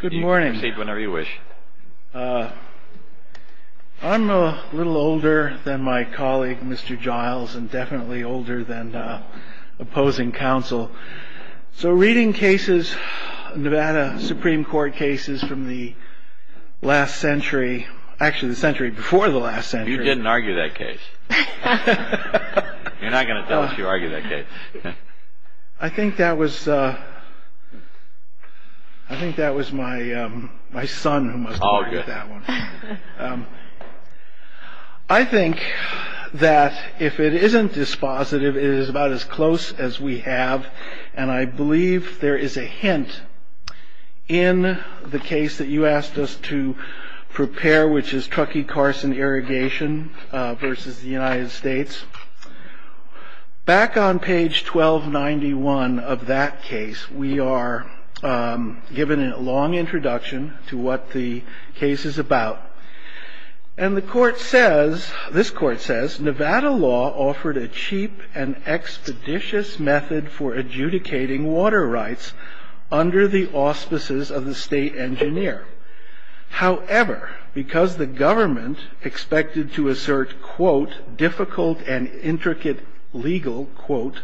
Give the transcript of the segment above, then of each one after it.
Good morning. I'm a little older than my colleague Mr. Giles and definitely older than opposing counsel. So reading cases, Nevada Supreme Court cases from the last century, actually the century before the last century. You didn't argue that case. You're not going to tell us you argued that case. I think that was my son who must have argued that one. I think that if it isn't dispositive, it is about as close as we have. And I believe there is a hint in the case that you asked us to prepare, which is Truckee Carson irrigation versus the United States. Back on page 1291 of that case, we are given a long introduction to what the case is about. And the court says, this court says, Nevada law offered a cheap and expeditious method for adjudicating water rights under the auspices of the state engineer. However, because the government expected to assert, quote, difficult and intricate legal, quote,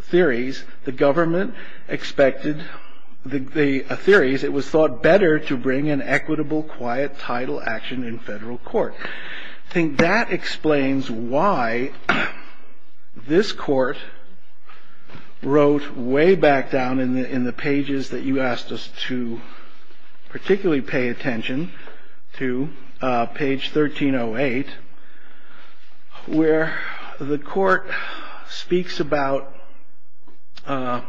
theories, the government expected the theories. It was thought better to bring an equitable, quiet title action in federal court. I think that explains why this court wrote way back down in the pages that you asked us to particularly pay attention to. Page 1308, where the court speaks about. And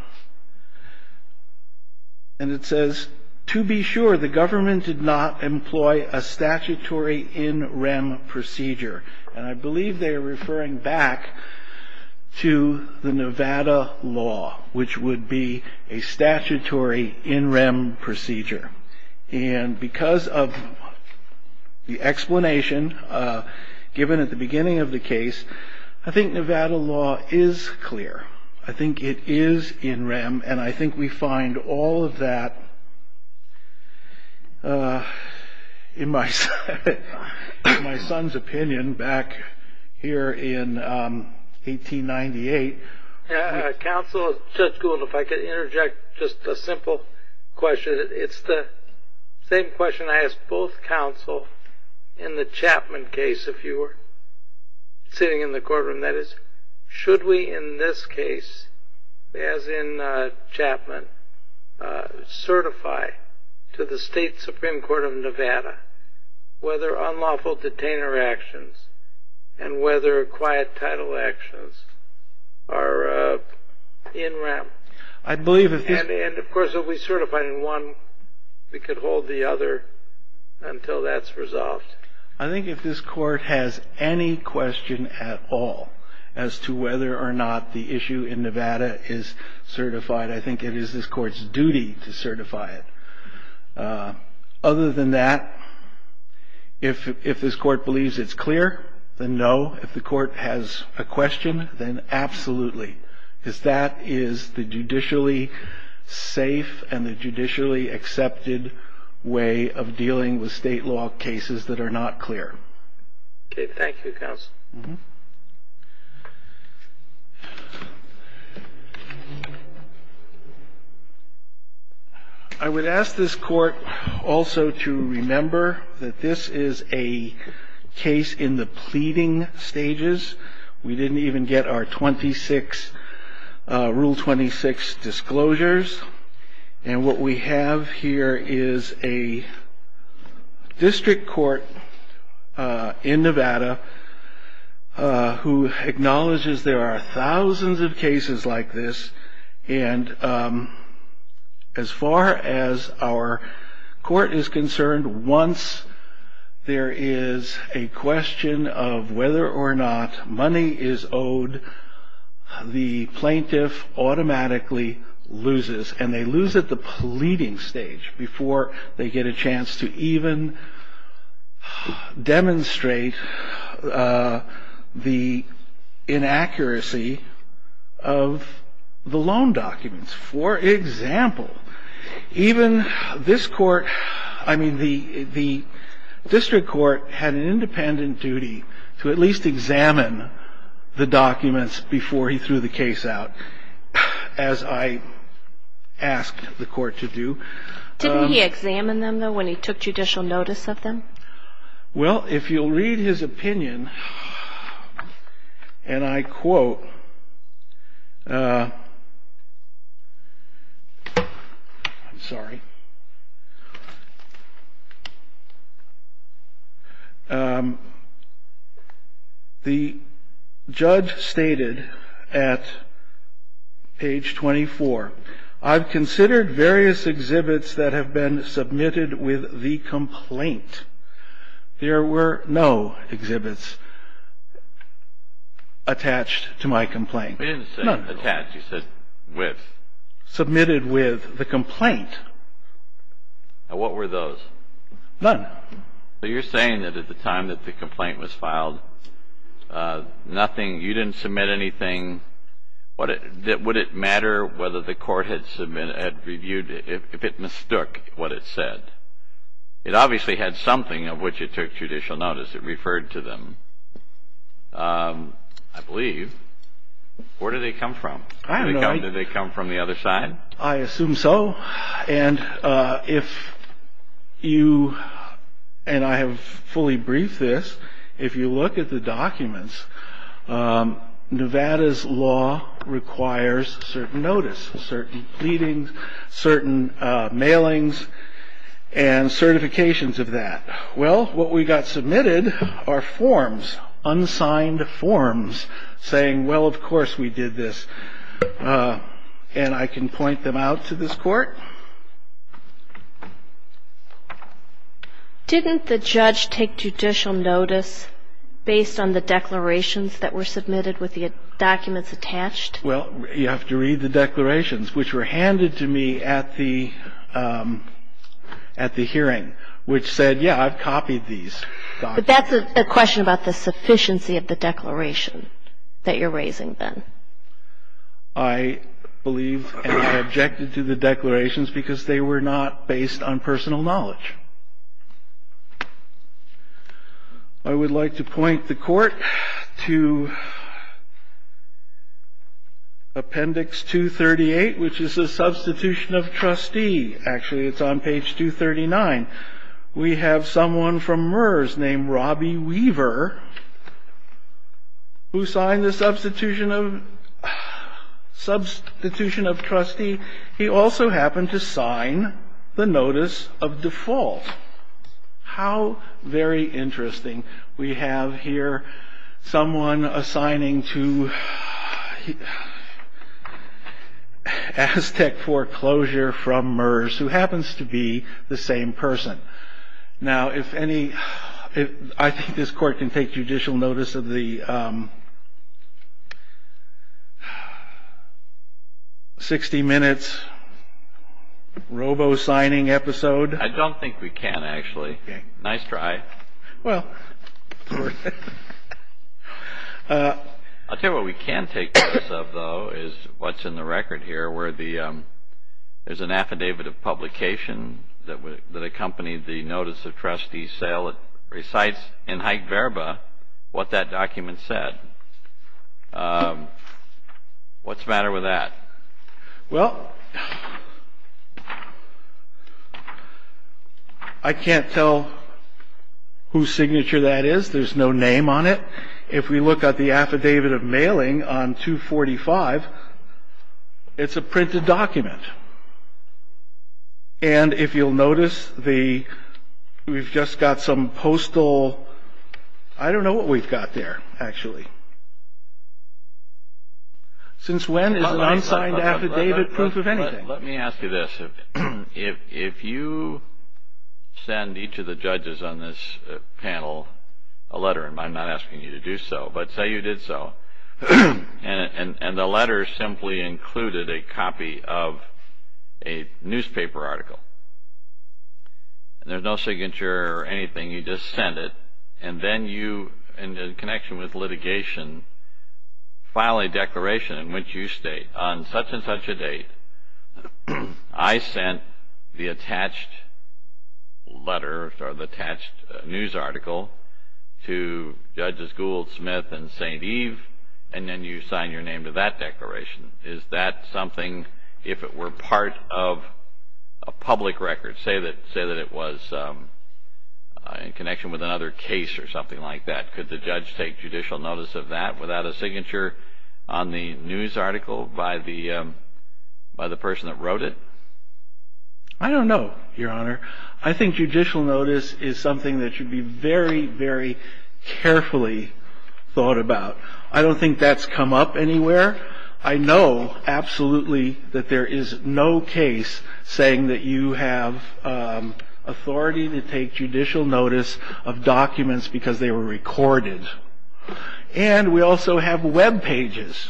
it says, to be sure, the government did not employ a statutory in rem procedure. And I believe they are referring back to the Nevada law, which would be a statutory in rem procedure. And because of the explanation given at the beginning of the case, I think Nevada law is clear. I think it is in rem. And I think we find all of that in my son's opinion back here in 1898. Counsel, Judge Gould, if I could interject just a simple question. It's the same question I asked both counsel in the Chapman case, if you were sitting in the courtroom. That is, should we in this case, as in Chapman, certify to the state Supreme Court of Nevada whether unlawful detainer actions and whether quiet title actions are in rem? And of course, if we certify in one, we could hold the other until that's resolved. I think if this court has any question at all as to whether or not the issue in Nevada is certified, I think it is this court's duty to certify it. Other than that, if this court believes it's clear, then no. If the court has a question, then absolutely. Because that is the judicially safe and the judicially accepted way of dealing with state law cases that are not clear. Okay. Thank you, counsel. I would ask this court also to remember that this is a case in the pleading stages. We didn't even get our 26, Rule 26 disclosures. And what we have here is a district court in Nevada who acknowledges there are thousands of cases like this. And as far as our court is concerned, once there is a question of whether or not money is owed, the plaintiff automatically loses. And they lose at the pleading stage before they get a chance to even demonstrate the inaccuracy of the loan documents. For example, even this court, I mean, the district court had an independent duty to at least examine the documents before he threw the case out. As I asked the court to do. Didn't he examine them, though, when he took judicial notice of them? Well, if you'll read his opinion, and I quote, I'm sorry. The judge stated at page 24, I've considered various exhibits that have been submitted with the complaint. There were no exhibits attached to my complaint. He didn't say attached. He said with. Submitted with the complaint. And what were those? None. So you're saying that at the time that the complaint was filed, nothing, you didn't submit anything. Would it matter whether the court had reviewed it if it mistook what it said? It obviously had something of which it took judicial notice. It referred to them, I believe. Where did they come from? Did they come from the other side? I assume so. And if you, and I have fully briefed this, if you look at the documents, Nevada's law requires certain notice, certain pleadings, certain mailings, and certifications of that. Well, what we got submitted are forms, unsigned forms saying, well, of course we did this. And I can point them out to this court. Didn't the judge take judicial notice based on the declarations that were submitted with the documents attached? Well, you have to read the declarations, which were handed to me at the hearing, which said, yeah, I've copied these documents. But that's a question about the sufficiency of the declaration that you're raising then. I believe and objected to the declarations because they were not based on personal knowledge. I would like to point the court to Appendix 238, which is the substitution of trustee. Actually, it's on page 239. We have someone from MERS named Robbie Weaver who signed the substitution of trustee. He also happened to sign the notice of default. How very interesting. We have here someone assigning to Aztec foreclosure from MERS who happens to be the same person. Now, if any, I think this court can take judicial notice of the 60 minutes robo-signing episode. I don't think we can, actually. Nice try. I'll tell you what we can take notice of, though, is what's in the record here, where there's an affidavit of publication that accompanied the notice of trustee sale. It recites in haig verba what that document said. What's the matter with that? Well, I can't tell whose signature that is. There's no name on it. If we look at the affidavit of mailing on 245, it's a printed document. And if you'll notice, we've just got some postal ‑‑ I don't know what we've got there, actually. Since when is an unsigned affidavit proof of anything? Let me ask you this. If you send each of the judges on this panel a letter, and I'm not asking you to do so, but say you did so, and the letter simply included a copy of a newspaper article, and there's no signature or anything, you just send it, and then you, in connection with litigation, file a declaration in which you state, on such and such a date, I sent the attached letter or the attached news article to Judges Gould, Smith, and St. Eve, and then you sign your name to that declaration. Is that something, if it were part of a public record, say that it was in connection with another case or something like that, could the judge take judicial notice of that without a signature on the news article by the person that wrote it? I don't know, Your Honor. I think judicial notice is something that should be very, very carefully thought about. I don't think that's come up anywhere. I know absolutely that there is no case saying that you have authority to take judicial notice of documents because they were recorded, and we also have webpages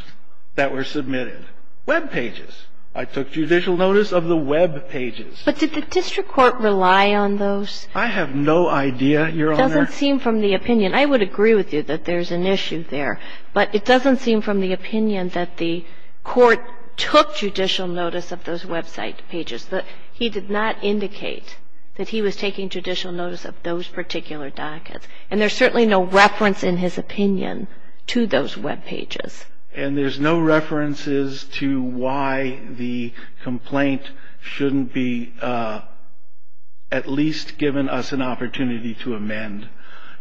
that were submitted. Webpages. I took judicial notice of the webpages. But did the district court rely on those? I have no idea, Your Honor. It doesn't seem from the opinion. I would agree with you that there's an issue there, but it doesn't seem from the opinion that the court took judicial notice of those website pages. He did not indicate that he was taking judicial notice of those particular dockets, and there's certainly no reference in his opinion to those webpages. And there's no references to why the complaint shouldn't be at least given us an opportunity to amend.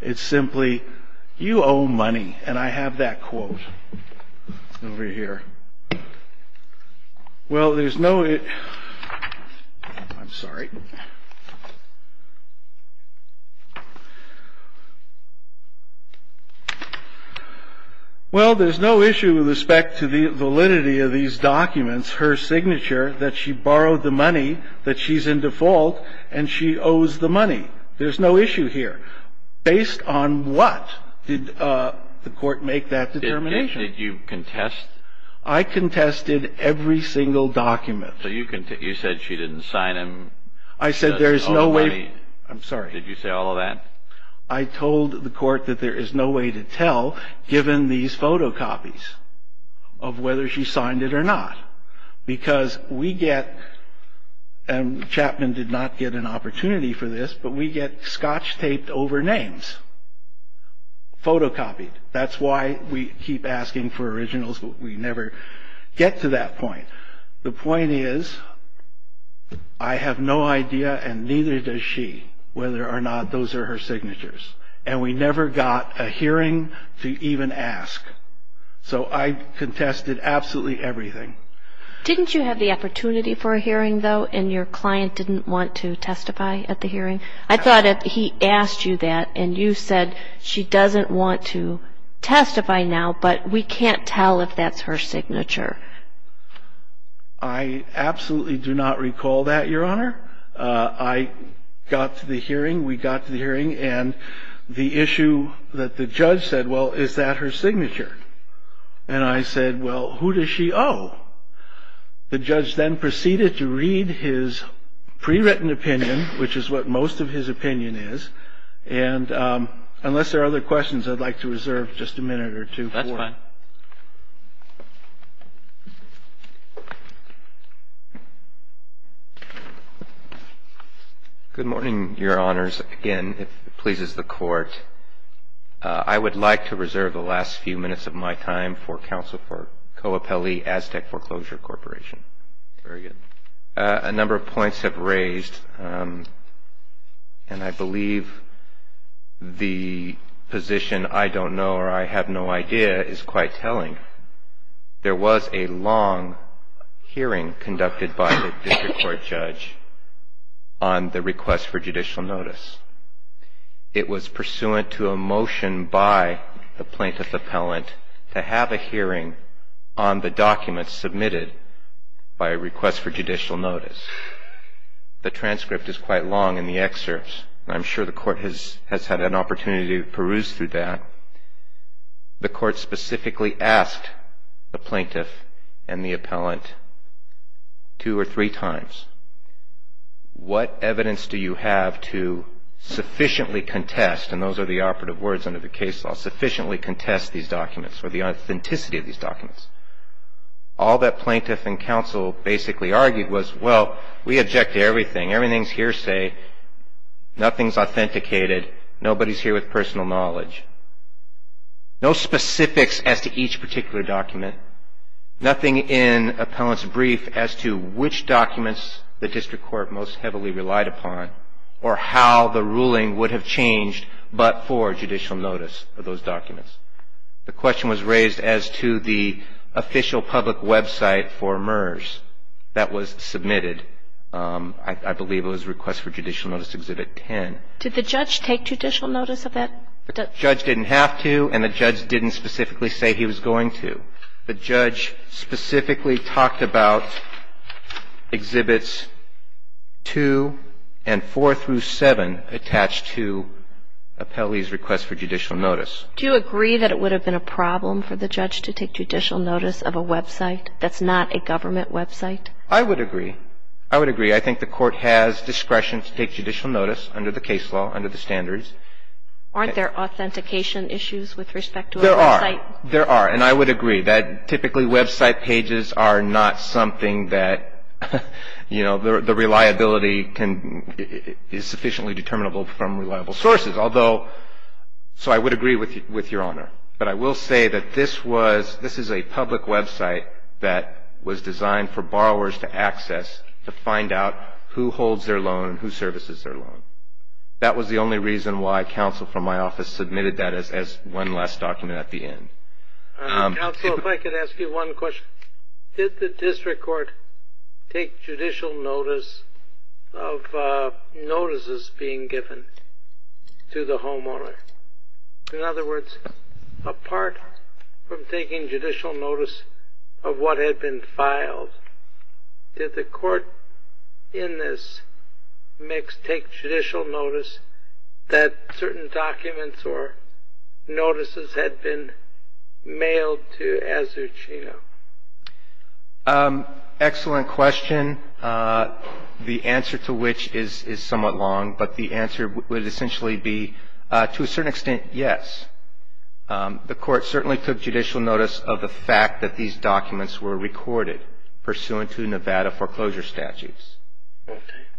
It's simply, you owe money, and I have that quote over here. Well, there's no issue with respect to the validity of these documents, her signature, that she borrowed the money, that she's in default, and she owes the money. There's no issue here. Based on what did the court make that determination? Did you contest? I contested every single document. So you said she didn't sign them? I said there's no way. I'm sorry. Did you say all of that? I told the court that there is no way to tell, given these photocopies, of whether she signed it or not. Because we get, and Chapman did not get an opportunity for this, but we get scotch taped over names, photocopied. That's why we keep asking for originals, but we never get to that point. The point is, I have no idea, and neither does she, whether or not those are her signatures. And we never got a hearing to even ask. So I contested absolutely everything. Didn't you have the opportunity for a hearing, though, and your client didn't want to testify at the hearing? I thought he asked you that, and you said she doesn't want to testify now, but we can't tell if that's her signature. I absolutely do not recall that, Your Honor. I got to the hearing, we got to the hearing, and the issue that the judge said, well, is that her signature? And I said, well, who does she owe? The judge then proceeded to read his pre-written opinion, which is what most of his opinion is. And unless there are other questions, I'd like to reserve just a minute or two. That's fine. Good morning, Your Honors. Again, if it pleases the Court. I would like to reserve the last few minutes of my time for counsel for Coapelli Aztec Foreclosure Corporation. Very good. A number of points have raised, and I believe the position I don't know or I have no idea is quite telling. There was a long hearing conducted by the district court judge on the request for judicial notice. It was pursuant to a motion by the plaintiff appellant to have a hearing on the documents submitted by request for judicial notice. The transcript is quite long in the excerpts, and I'm sure the Court has had an opportunity to peruse through that. The Court specifically asked the plaintiff and the appellant two or three times, What evidence do you have to sufficiently contest, and those are the operative words under the case law, sufficiently contest these documents or the authenticity of these documents? All that plaintiff and counsel basically argued was, well, we object to everything. Everything's hearsay. Nothing's authenticated. Nobody's here with personal knowledge. No specifics as to each particular document. Nothing in appellant's brief as to which documents the district court most heavily relied upon or how the ruling would have changed but for judicial notice of those documents. The question was raised as to the official public website for MERS that was submitted. I believe it was request for judicial notice exhibit 10. Did the judge take judicial notice of that? The judge didn't have to, and the judge didn't specifically say he was going to. The judge specifically talked about exhibits 2 and 4 through 7 attached to appellee's request for judicial notice. Do you agree that it would have been a problem for the judge to take judicial notice of a website that's not a government website? I would agree. I would agree. I think the Court has discretion to take judicial notice under the case law, under the standards. Aren't there authentication issues with respect to a website? There are. There are. And I would agree that typically website pages are not something that, you know, the reliability is sufficiently determinable from reliable sources. So I would agree with Your Honor. But I will say that this is a public website that was designed for borrowers to access to find out who holds their loan and who services their loan. That was the only reason why counsel from my office submitted that as one last document at the end. Counsel, if I could ask you one question. Did the district court take judicial notice of notices being given to the homeowner? In other words, apart from taking judicial notice of what had been filed, did the court in this mix take judicial notice that certain documents or notices had been mailed to Azucena? Excellent question. The answer to which is somewhat long, but the answer would essentially be to a certain extent, yes. The court certainly took judicial notice of the fact that these documents were recorded, pursuant to Nevada foreclosure statutes,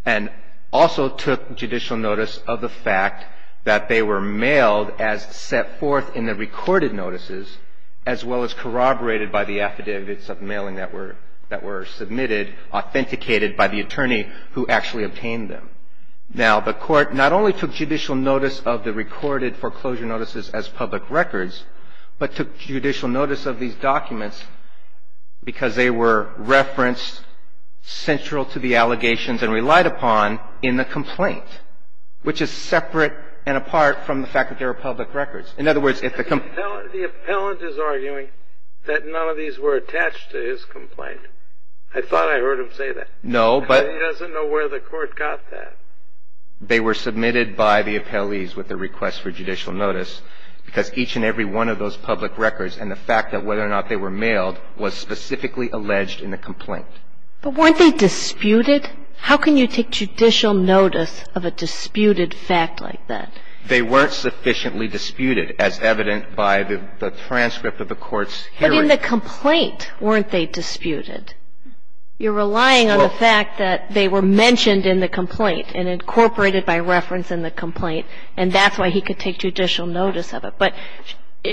and also took judicial notice of the fact that they were mailed as set forth in the recorded notices, as well as corroborated by the affidavits of mailing that were submitted, authenticated by the attorney who actually obtained them. Now, the court not only took judicial notice of the recorded foreclosure notices as public records, but took judicial notice of these documents because they were referenced central to the allegations and relied upon in the complaint, which is separate and apart from the fact that they were public records. In other words, if the complaint… The appellant is arguing that none of these were attached to his complaint. I thought I heard him say that. No, but… They were submitted by the appellees with the request for judicial notice because each and every one of those public records and the fact that whether or not they were mailed was specifically alleged in the complaint. But weren't they disputed? How can you take judicial notice of a disputed fact like that? They weren't sufficiently disputed, as evident by the transcript of the court's hearing. But in the complaint, weren't they disputed? You're relying on the fact that they were mentioned in the complaint and incorporated by reference in the complaint, and that's why he could take judicial notice of it. But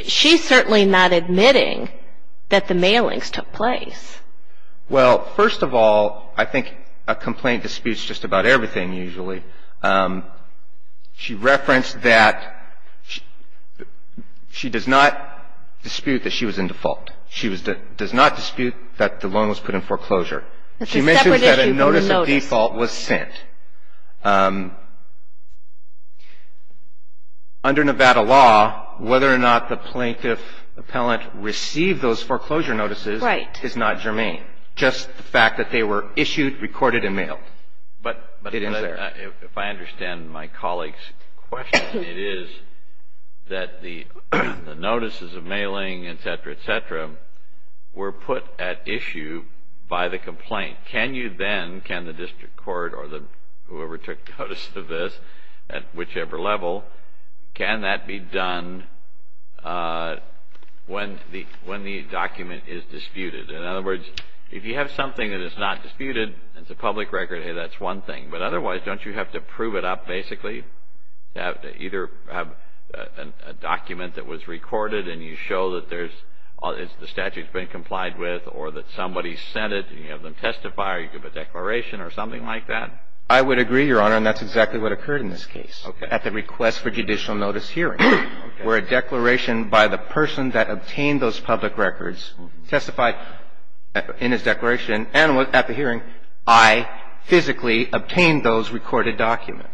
she's certainly not admitting that the mailings took place. Well, first of all, I think a complaint disputes just about everything, usually. She referenced that she does not dispute that she was in default. She does not dispute that the loan was put in foreclosure. She mentioned that a notice of default was sent. Under Nevada law, whether or not the plaintiff appellant received those foreclosure notices is not germane. Just the fact that they were issued, recorded, and mailed. But if I understand my colleague's question, it is that the notices of mailing, etc., etc., were put at issue by the complaint. Can you then, can the district court or whoever took notice of this at whichever level, can that be done when the document is disputed? In other words, if you have something that is not disputed, it's a public record, that's one thing. But otherwise, don't you have to prove it up, basically? Either have a document that was recorded and you show that there's, the statute's been complied with or that somebody sent it and you have them testify or you give a declaration or something like that? I would agree, Your Honor, and that's exactly what occurred in this case. Okay. At the request for judicial notice hearing. Okay. Where a declaration by the person that obtained those public records testified in his declaration and at the hearing I physically obtained those recorded documents.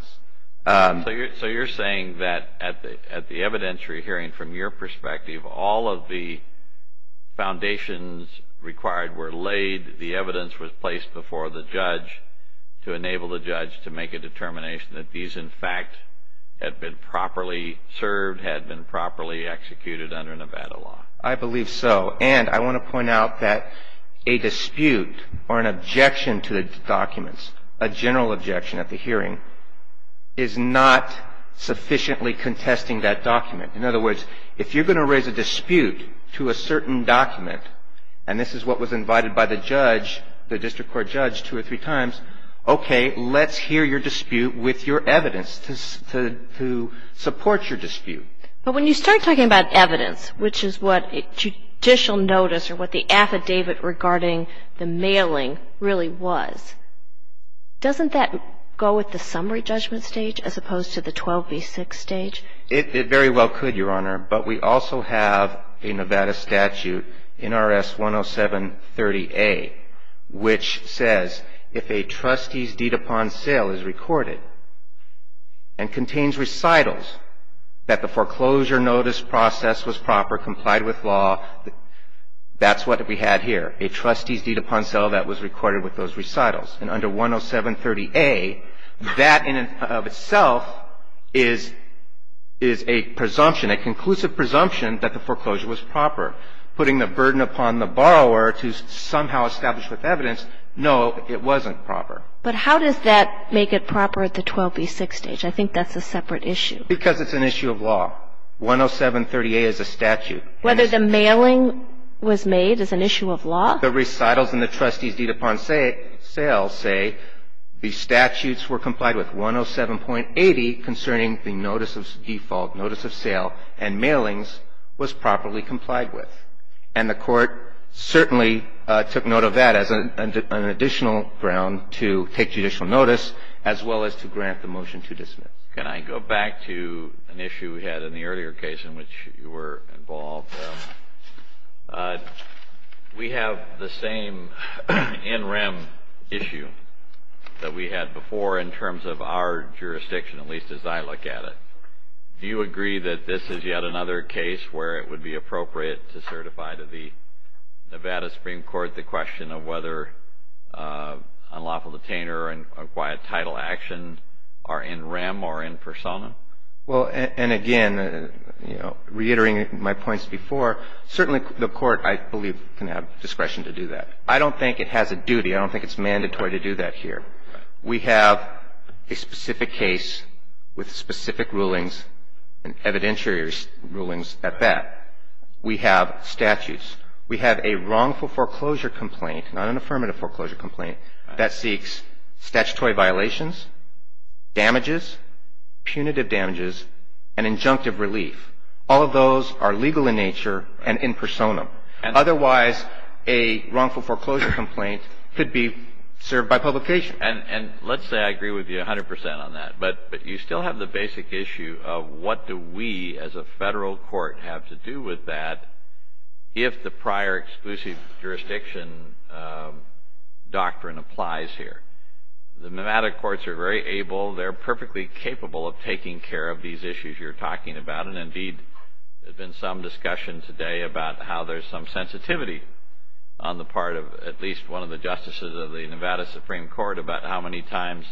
So you're saying that at the evidentiary hearing, from your perspective, all of the foundations required were laid, the evidence was placed before the judge to enable the judge to make a determination that these, in fact, had been properly served, had been properly executed under Nevada law. I believe so. And I want to point out that a dispute or an objection to the documents, a general objection at the hearing, is not sufficiently contesting that document. In other words, if you're going to raise a dispute to a certain document, and this is what was invited by the judge, the district court judge, two or three times, okay, let's hear your dispute with your evidence to support your dispute. But when you start talking about evidence, which is what a judicial notice or what the affidavit regarding the mailing really was, doesn't that go with the summary judgment stage as opposed to the 12B6 stage? It very well could, Your Honor. But we also have a Nevada statute, NRS 10730A, which says if a trustee's deed upon sale is recorded and contains recitals that the foreclosure notice process was proper, complied with law, that's what we had here, a trustee's deed upon sale that was recorded with those recitals. And under 10730A, that in and of itself is a presumption, a conclusive presumption that the foreclosure was proper. Putting the burden upon the borrower to somehow establish with evidence, no, it wasn't proper. But how does that make it proper at the 12B6 stage? I think that's a separate issue. Because it's an issue of law. 10730A is a statute. Whether the mailing was made is an issue of law? The recitals and the trustee's deed upon sale say the statutes were complied with, 107.80 concerning the notice of default, notice of sale, and mailings was properly complied with. And the Court certainly took note of that as an additional ground to take judicial notice, as well as to grant the motion to dismiss. Can I go back to an issue we had in the earlier case in which you were involved? We have the same NREM issue that we had before in terms of our jurisdiction, at least as I look at it. Do you agree that this is yet another case where it would be appropriate to certify to the Nevada Supreme Court the question of whether unlawful detainer and quiet title action are in REM or in persona? Well, and again, you know, reiterating my points before, certainly the Court, I believe, can have discretion to do that. I don't think it has a duty. I don't think it's mandatory to do that here. We have a specific case with specific rulings and evidentiary rulings at that. We have statutes. We have a wrongful foreclosure complaint, not an affirmative foreclosure complaint, that seeks statutory violations, damages, punitive damages, and injunctive relief. All of those are legal in nature and in persona. Otherwise, a wrongful foreclosure complaint could be served by publication. And let's say I agree with you 100% on that, but you still have the basic issue of what do we as a federal court have to do with that if the prior exclusive jurisdiction doctrine applies here. The Nevada courts are very able. They're perfectly capable of taking care of these issues you're talking about, and, indeed, there's been some discussion today about how there's some sensitivity on the part of at least one of the justices of the Nevada Supreme Court about how many times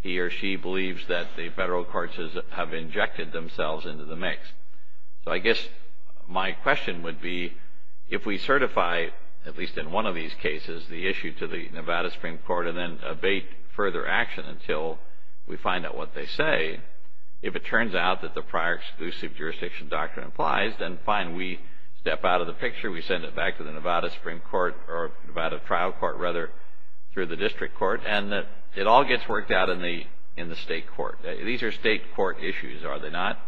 he or she believes that the federal courts have injected themselves into the mix. So I guess my question would be if we certify, at least in one of these cases, the issue to the Nevada Supreme Court and then abate further action until we find out what they say, if it turns out that the prior exclusive jurisdiction doctrine applies, then fine. We step out of the picture. We send it back to the Nevada Supreme Court or Nevada trial court, rather, through the district court, and it all gets worked out in the state court. These are state court issues, are they not,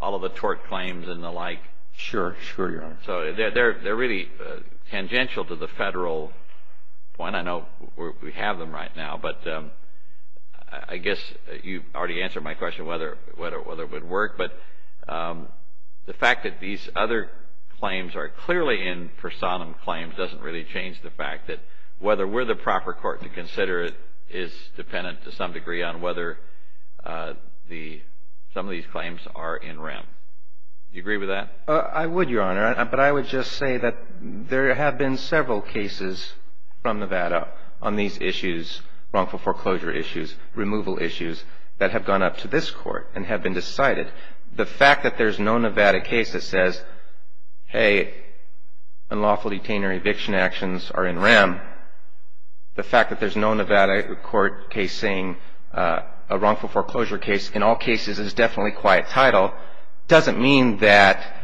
all of the tort claims and the like? Sure, sure, Your Honor. So they're really tangential to the federal point. I know we have them right now, but I guess you already answered my question whether it would work, but the fact that these other claims are clearly in personam claims doesn't really change the fact that whether we're the proper court to consider it is dependent to some degree on whether some of these claims are in rem. Do you agree with that? I would, Your Honor. But I would just say that there have been several cases from Nevada on these issues, wrongful foreclosure issues, removal issues, that have gone up to this Court and have been decided. The fact that there's no Nevada case that says, hey, unlawful detainer eviction actions are in rem, the fact that there's no Nevada court case saying a wrongful foreclosure case in all cases is definitely quiet title, doesn't mean that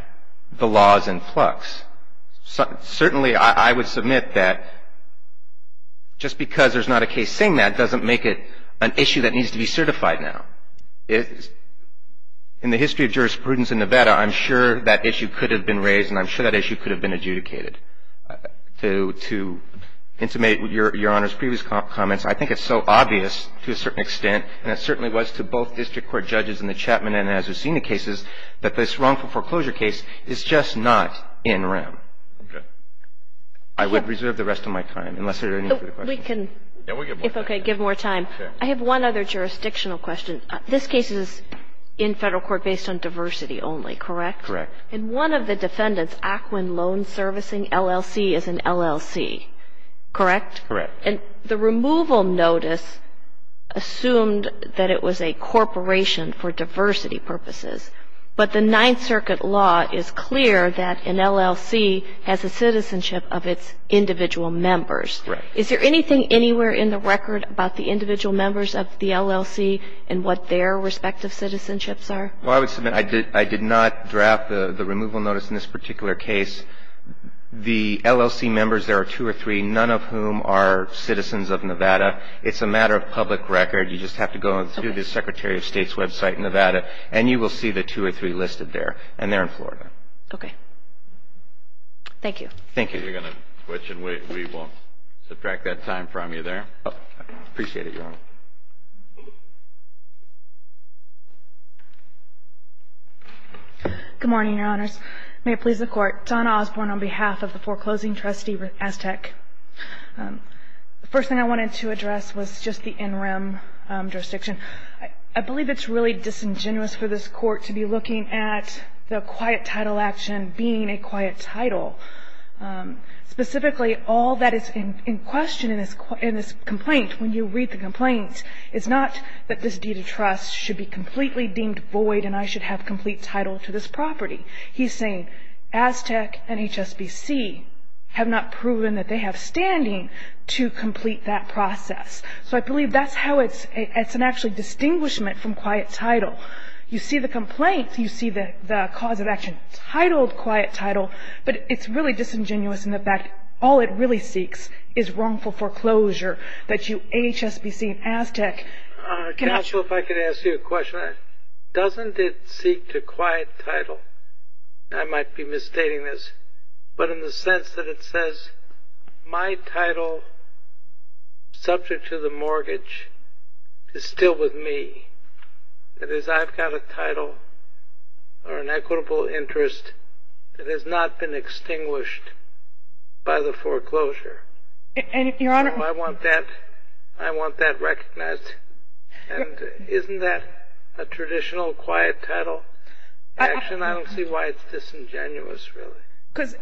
the law is in flux. Certainly, I would submit that just because there's not a case saying that doesn't make it an issue that needs to be certified now. In the history of jurisprudence in Nevada, I'm sure that issue could have been raised and I'm sure that issue could have been adjudicated. To intimate Your Honor's previous comments, I think it's so obvious to a certain extent, and it certainly was to both district court judges in the Chapman and Azucena cases, that this wrongful foreclosure case is just not in rem. Okay. I would reserve the rest of my time, unless there are any further questions. We can, if okay, give more time. Okay. I have one other jurisdictional question. This case is in Federal court based on diversity only, correct? Correct. In one of the defendants, Aquin Loan Servicing LLC is an LLC, correct? Correct. And the removal notice assumed that it was a corporation for diversity purposes. But the Ninth Circuit law is clear that an LLC has a citizenship of its individual members. Correct. Is there anything anywhere in the record about the individual members of the LLC and what their respective citizenships are? Well, I would submit I did not draft the removal notice in this particular case. The LLC members, there are two or three, none of whom are citizens of Nevada. It's a matter of public record. You just have to go through the Secretary of State's website in Nevada, and you will see the two or three listed there. And they're in Florida. Okay. Thank you. Thank you. You're going to switch, and we won't subtract that time from you there. Good morning, Your Honors. May it please the Court. Donna Osborne on behalf of the foreclosing trustee, Aztec. The first thing I wanted to address was just the NREM jurisdiction. I believe it's really disingenuous for this Court to be looking at the quiet title action being a quiet title. Specifically, all that is in question in this complaint, when you read the complaint, is not that this deed of trust should be completely deemed void and I should have complete title to this property. He's saying Aztec and HSBC have not proven that they have standing to complete that process. So I believe that's how it's an actual distinguishment from quiet title. You see the complaint, you see the cause of action titled quiet title, but it's really disingenuous in the fact all it really seeks is wrongful foreclosure that you, HSBC and Aztec. Doesn't it seek to quiet title? I might be misstating this, but in the sense that it says my title subject to the mortgage is still with me. That is, I've got a title or an equitable interest that has not been extinguished by the foreclosure. I want that recognized. And isn't that a traditional quiet title action? I don't see why it's disingenuous, really.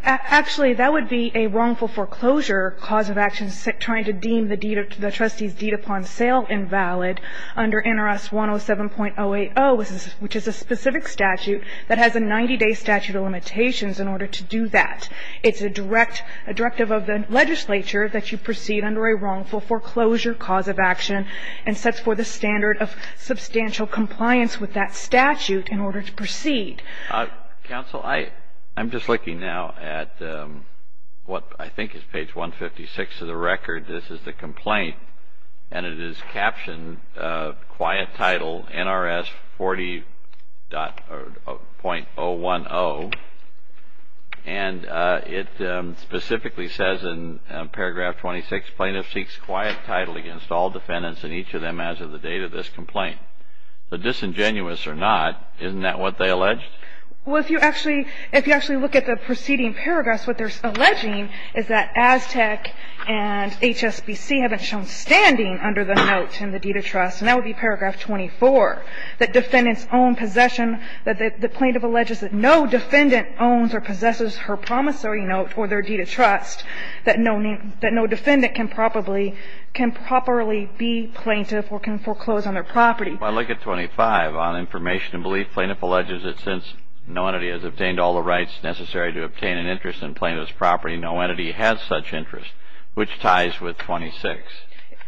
Actually, that would be a wrongful foreclosure cause of action, trying to deem the trustee's deed upon sale invalid under NRS 107.080, which is a specific statute that has a 90-day statute of limitations in order to do that. It's a directive of the legislature that you proceed under a wrongful foreclosure cause of action and sets forth a standard of substantial compliance with that statute in order to proceed. Counsel, I'm just looking now at what I think is page 156 of the record. This is the complaint, and it is captioned quiet title NRS 40.010. And it specifically says in paragraph 26, plaintiff seeks quiet title against all defendants and each of them as of the date of this complaint. Disingenuous or not, isn't that what they allege? Well, if you actually look at the preceding paragraphs, what they're alleging is that Aztec and HSBC haven't shown standing under the note in the deed of trust, and that would be paragraph 24, that defendants own possession, that the plaintiff alleges that no defendant owns or possesses her promissory note or their deed of trust, that no defendant can properly be plaintiff or can foreclose on their property. If I look at 25 on information and belief, plaintiff alleges that since no entity has obtained all the rights necessary to obtain an interest in plaintiff's property, no entity has such interest, which ties with 26.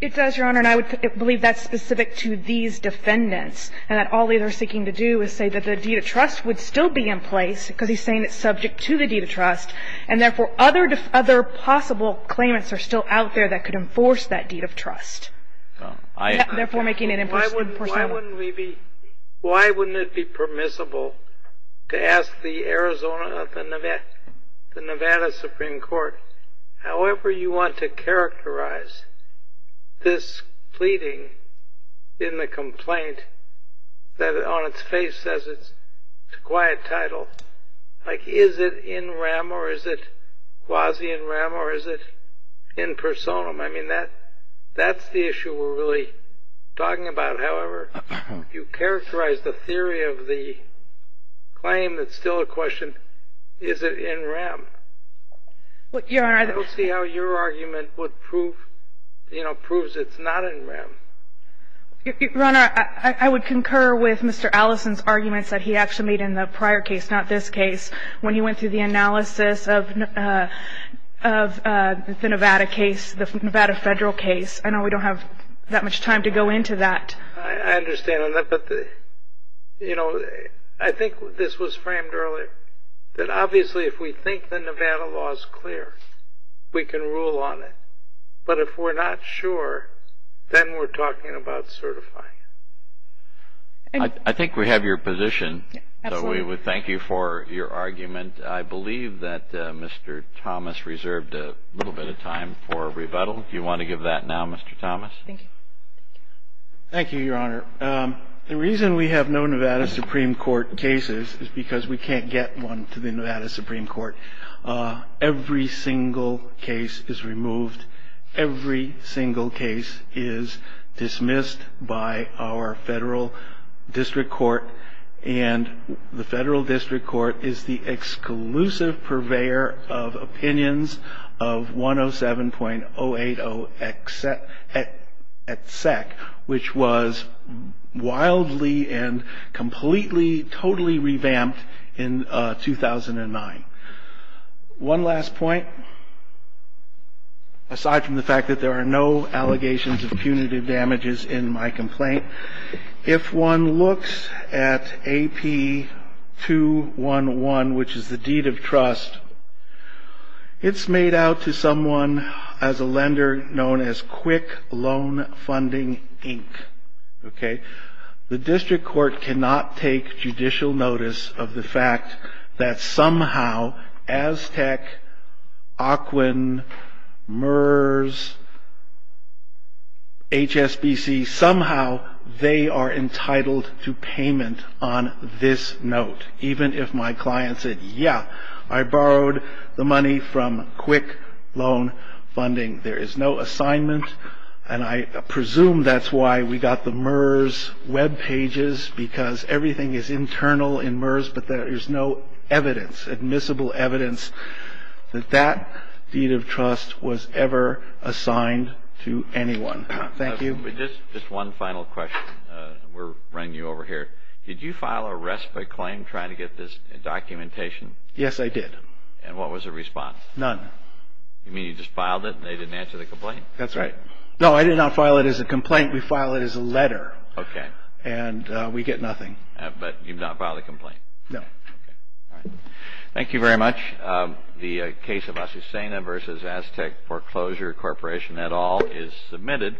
It does, Your Honor, and I would believe that's specific to these defendants and that all they are seeking to do is say that the deed of trust would still be in place because he's saying it's subject to the deed of trust, and therefore other possible claimants are still out there that could enforce that deed of trust. Therefore, making it in person. Why wouldn't we be – why wouldn't it be permissible to ask the Arizona – the Nevada Supreme Court, however you want to characterize this pleading in the complaint that on its face says it's a quiet title, like is it in rem or is it quasi in rem or is it in personam? I mean, that's the issue we're really talking about. However, if you characterize the theory of the claim, it's still a question, is it in rem? I don't see how your argument would prove – you know, proves it's not in rem. Your Honor, I would concur with Mr. Allison's arguments that he actually made in the prior case, not this case, when he went through the analysis of the Nevada case, the Nevada federal case. I know we don't have that much time to go into that. I understand that, but, you know, I think this was framed earlier, that obviously if we think the Nevada law is clear, we can rule on it. But if we're not sure, then we're talking about certifying it. I think we have your position, so we would thank you for your argument. I believe that Mr. Thomas reserved a little bit of time for rebuttal. Do you want to give that now, Mr. Thomas? Thank you. Thank you, Your Honor. The reason we have no Nevada Supreme Court cases is because we can't get one to the Nevada Supreme Court. Every single case is removed. Every single case is dismissed by our federal district court. And the federal district court is the exclusive purveyor of opinions of 107.080-ETSEC, which was wildly and completely, totally revamped in 2009. One last point. Aside from the fact that there are no allegations of punitive damages in my complaint, if one looks at AP211, which is the deed of trust, it's made out to someone as a lender known as Quick Loan Funding, Inc. The district court cannot take judicial notice of the fact that somehow, Aztec, Ocwen, MERS, HSBC, somehow they are entitled to payment on this note, even if my client said, yeah, I borrowed the money from Quick Loan Funding. There is no assignment, and I presume that's why we got the MERS webpages, because everything is internal in MERS, but there is no evidence, admissible evidence, that that deed of trust was ever assigned to anyone. Thank you. Just one final question. We're running you over here. Did you file a respite claim trying to get this documentation? Yes, I did. And what was the response? None. You mean you just filed it and they didn't answer the complaint? That's right. No, I did not file it as a complaint. We filed it as a letter. Okay. And we get nothing. But you've not filed a complaint? No. Okay. All right. Thank you very much. The case of Asusena v. Aztec Foreclosure Corporation et al. is submitted.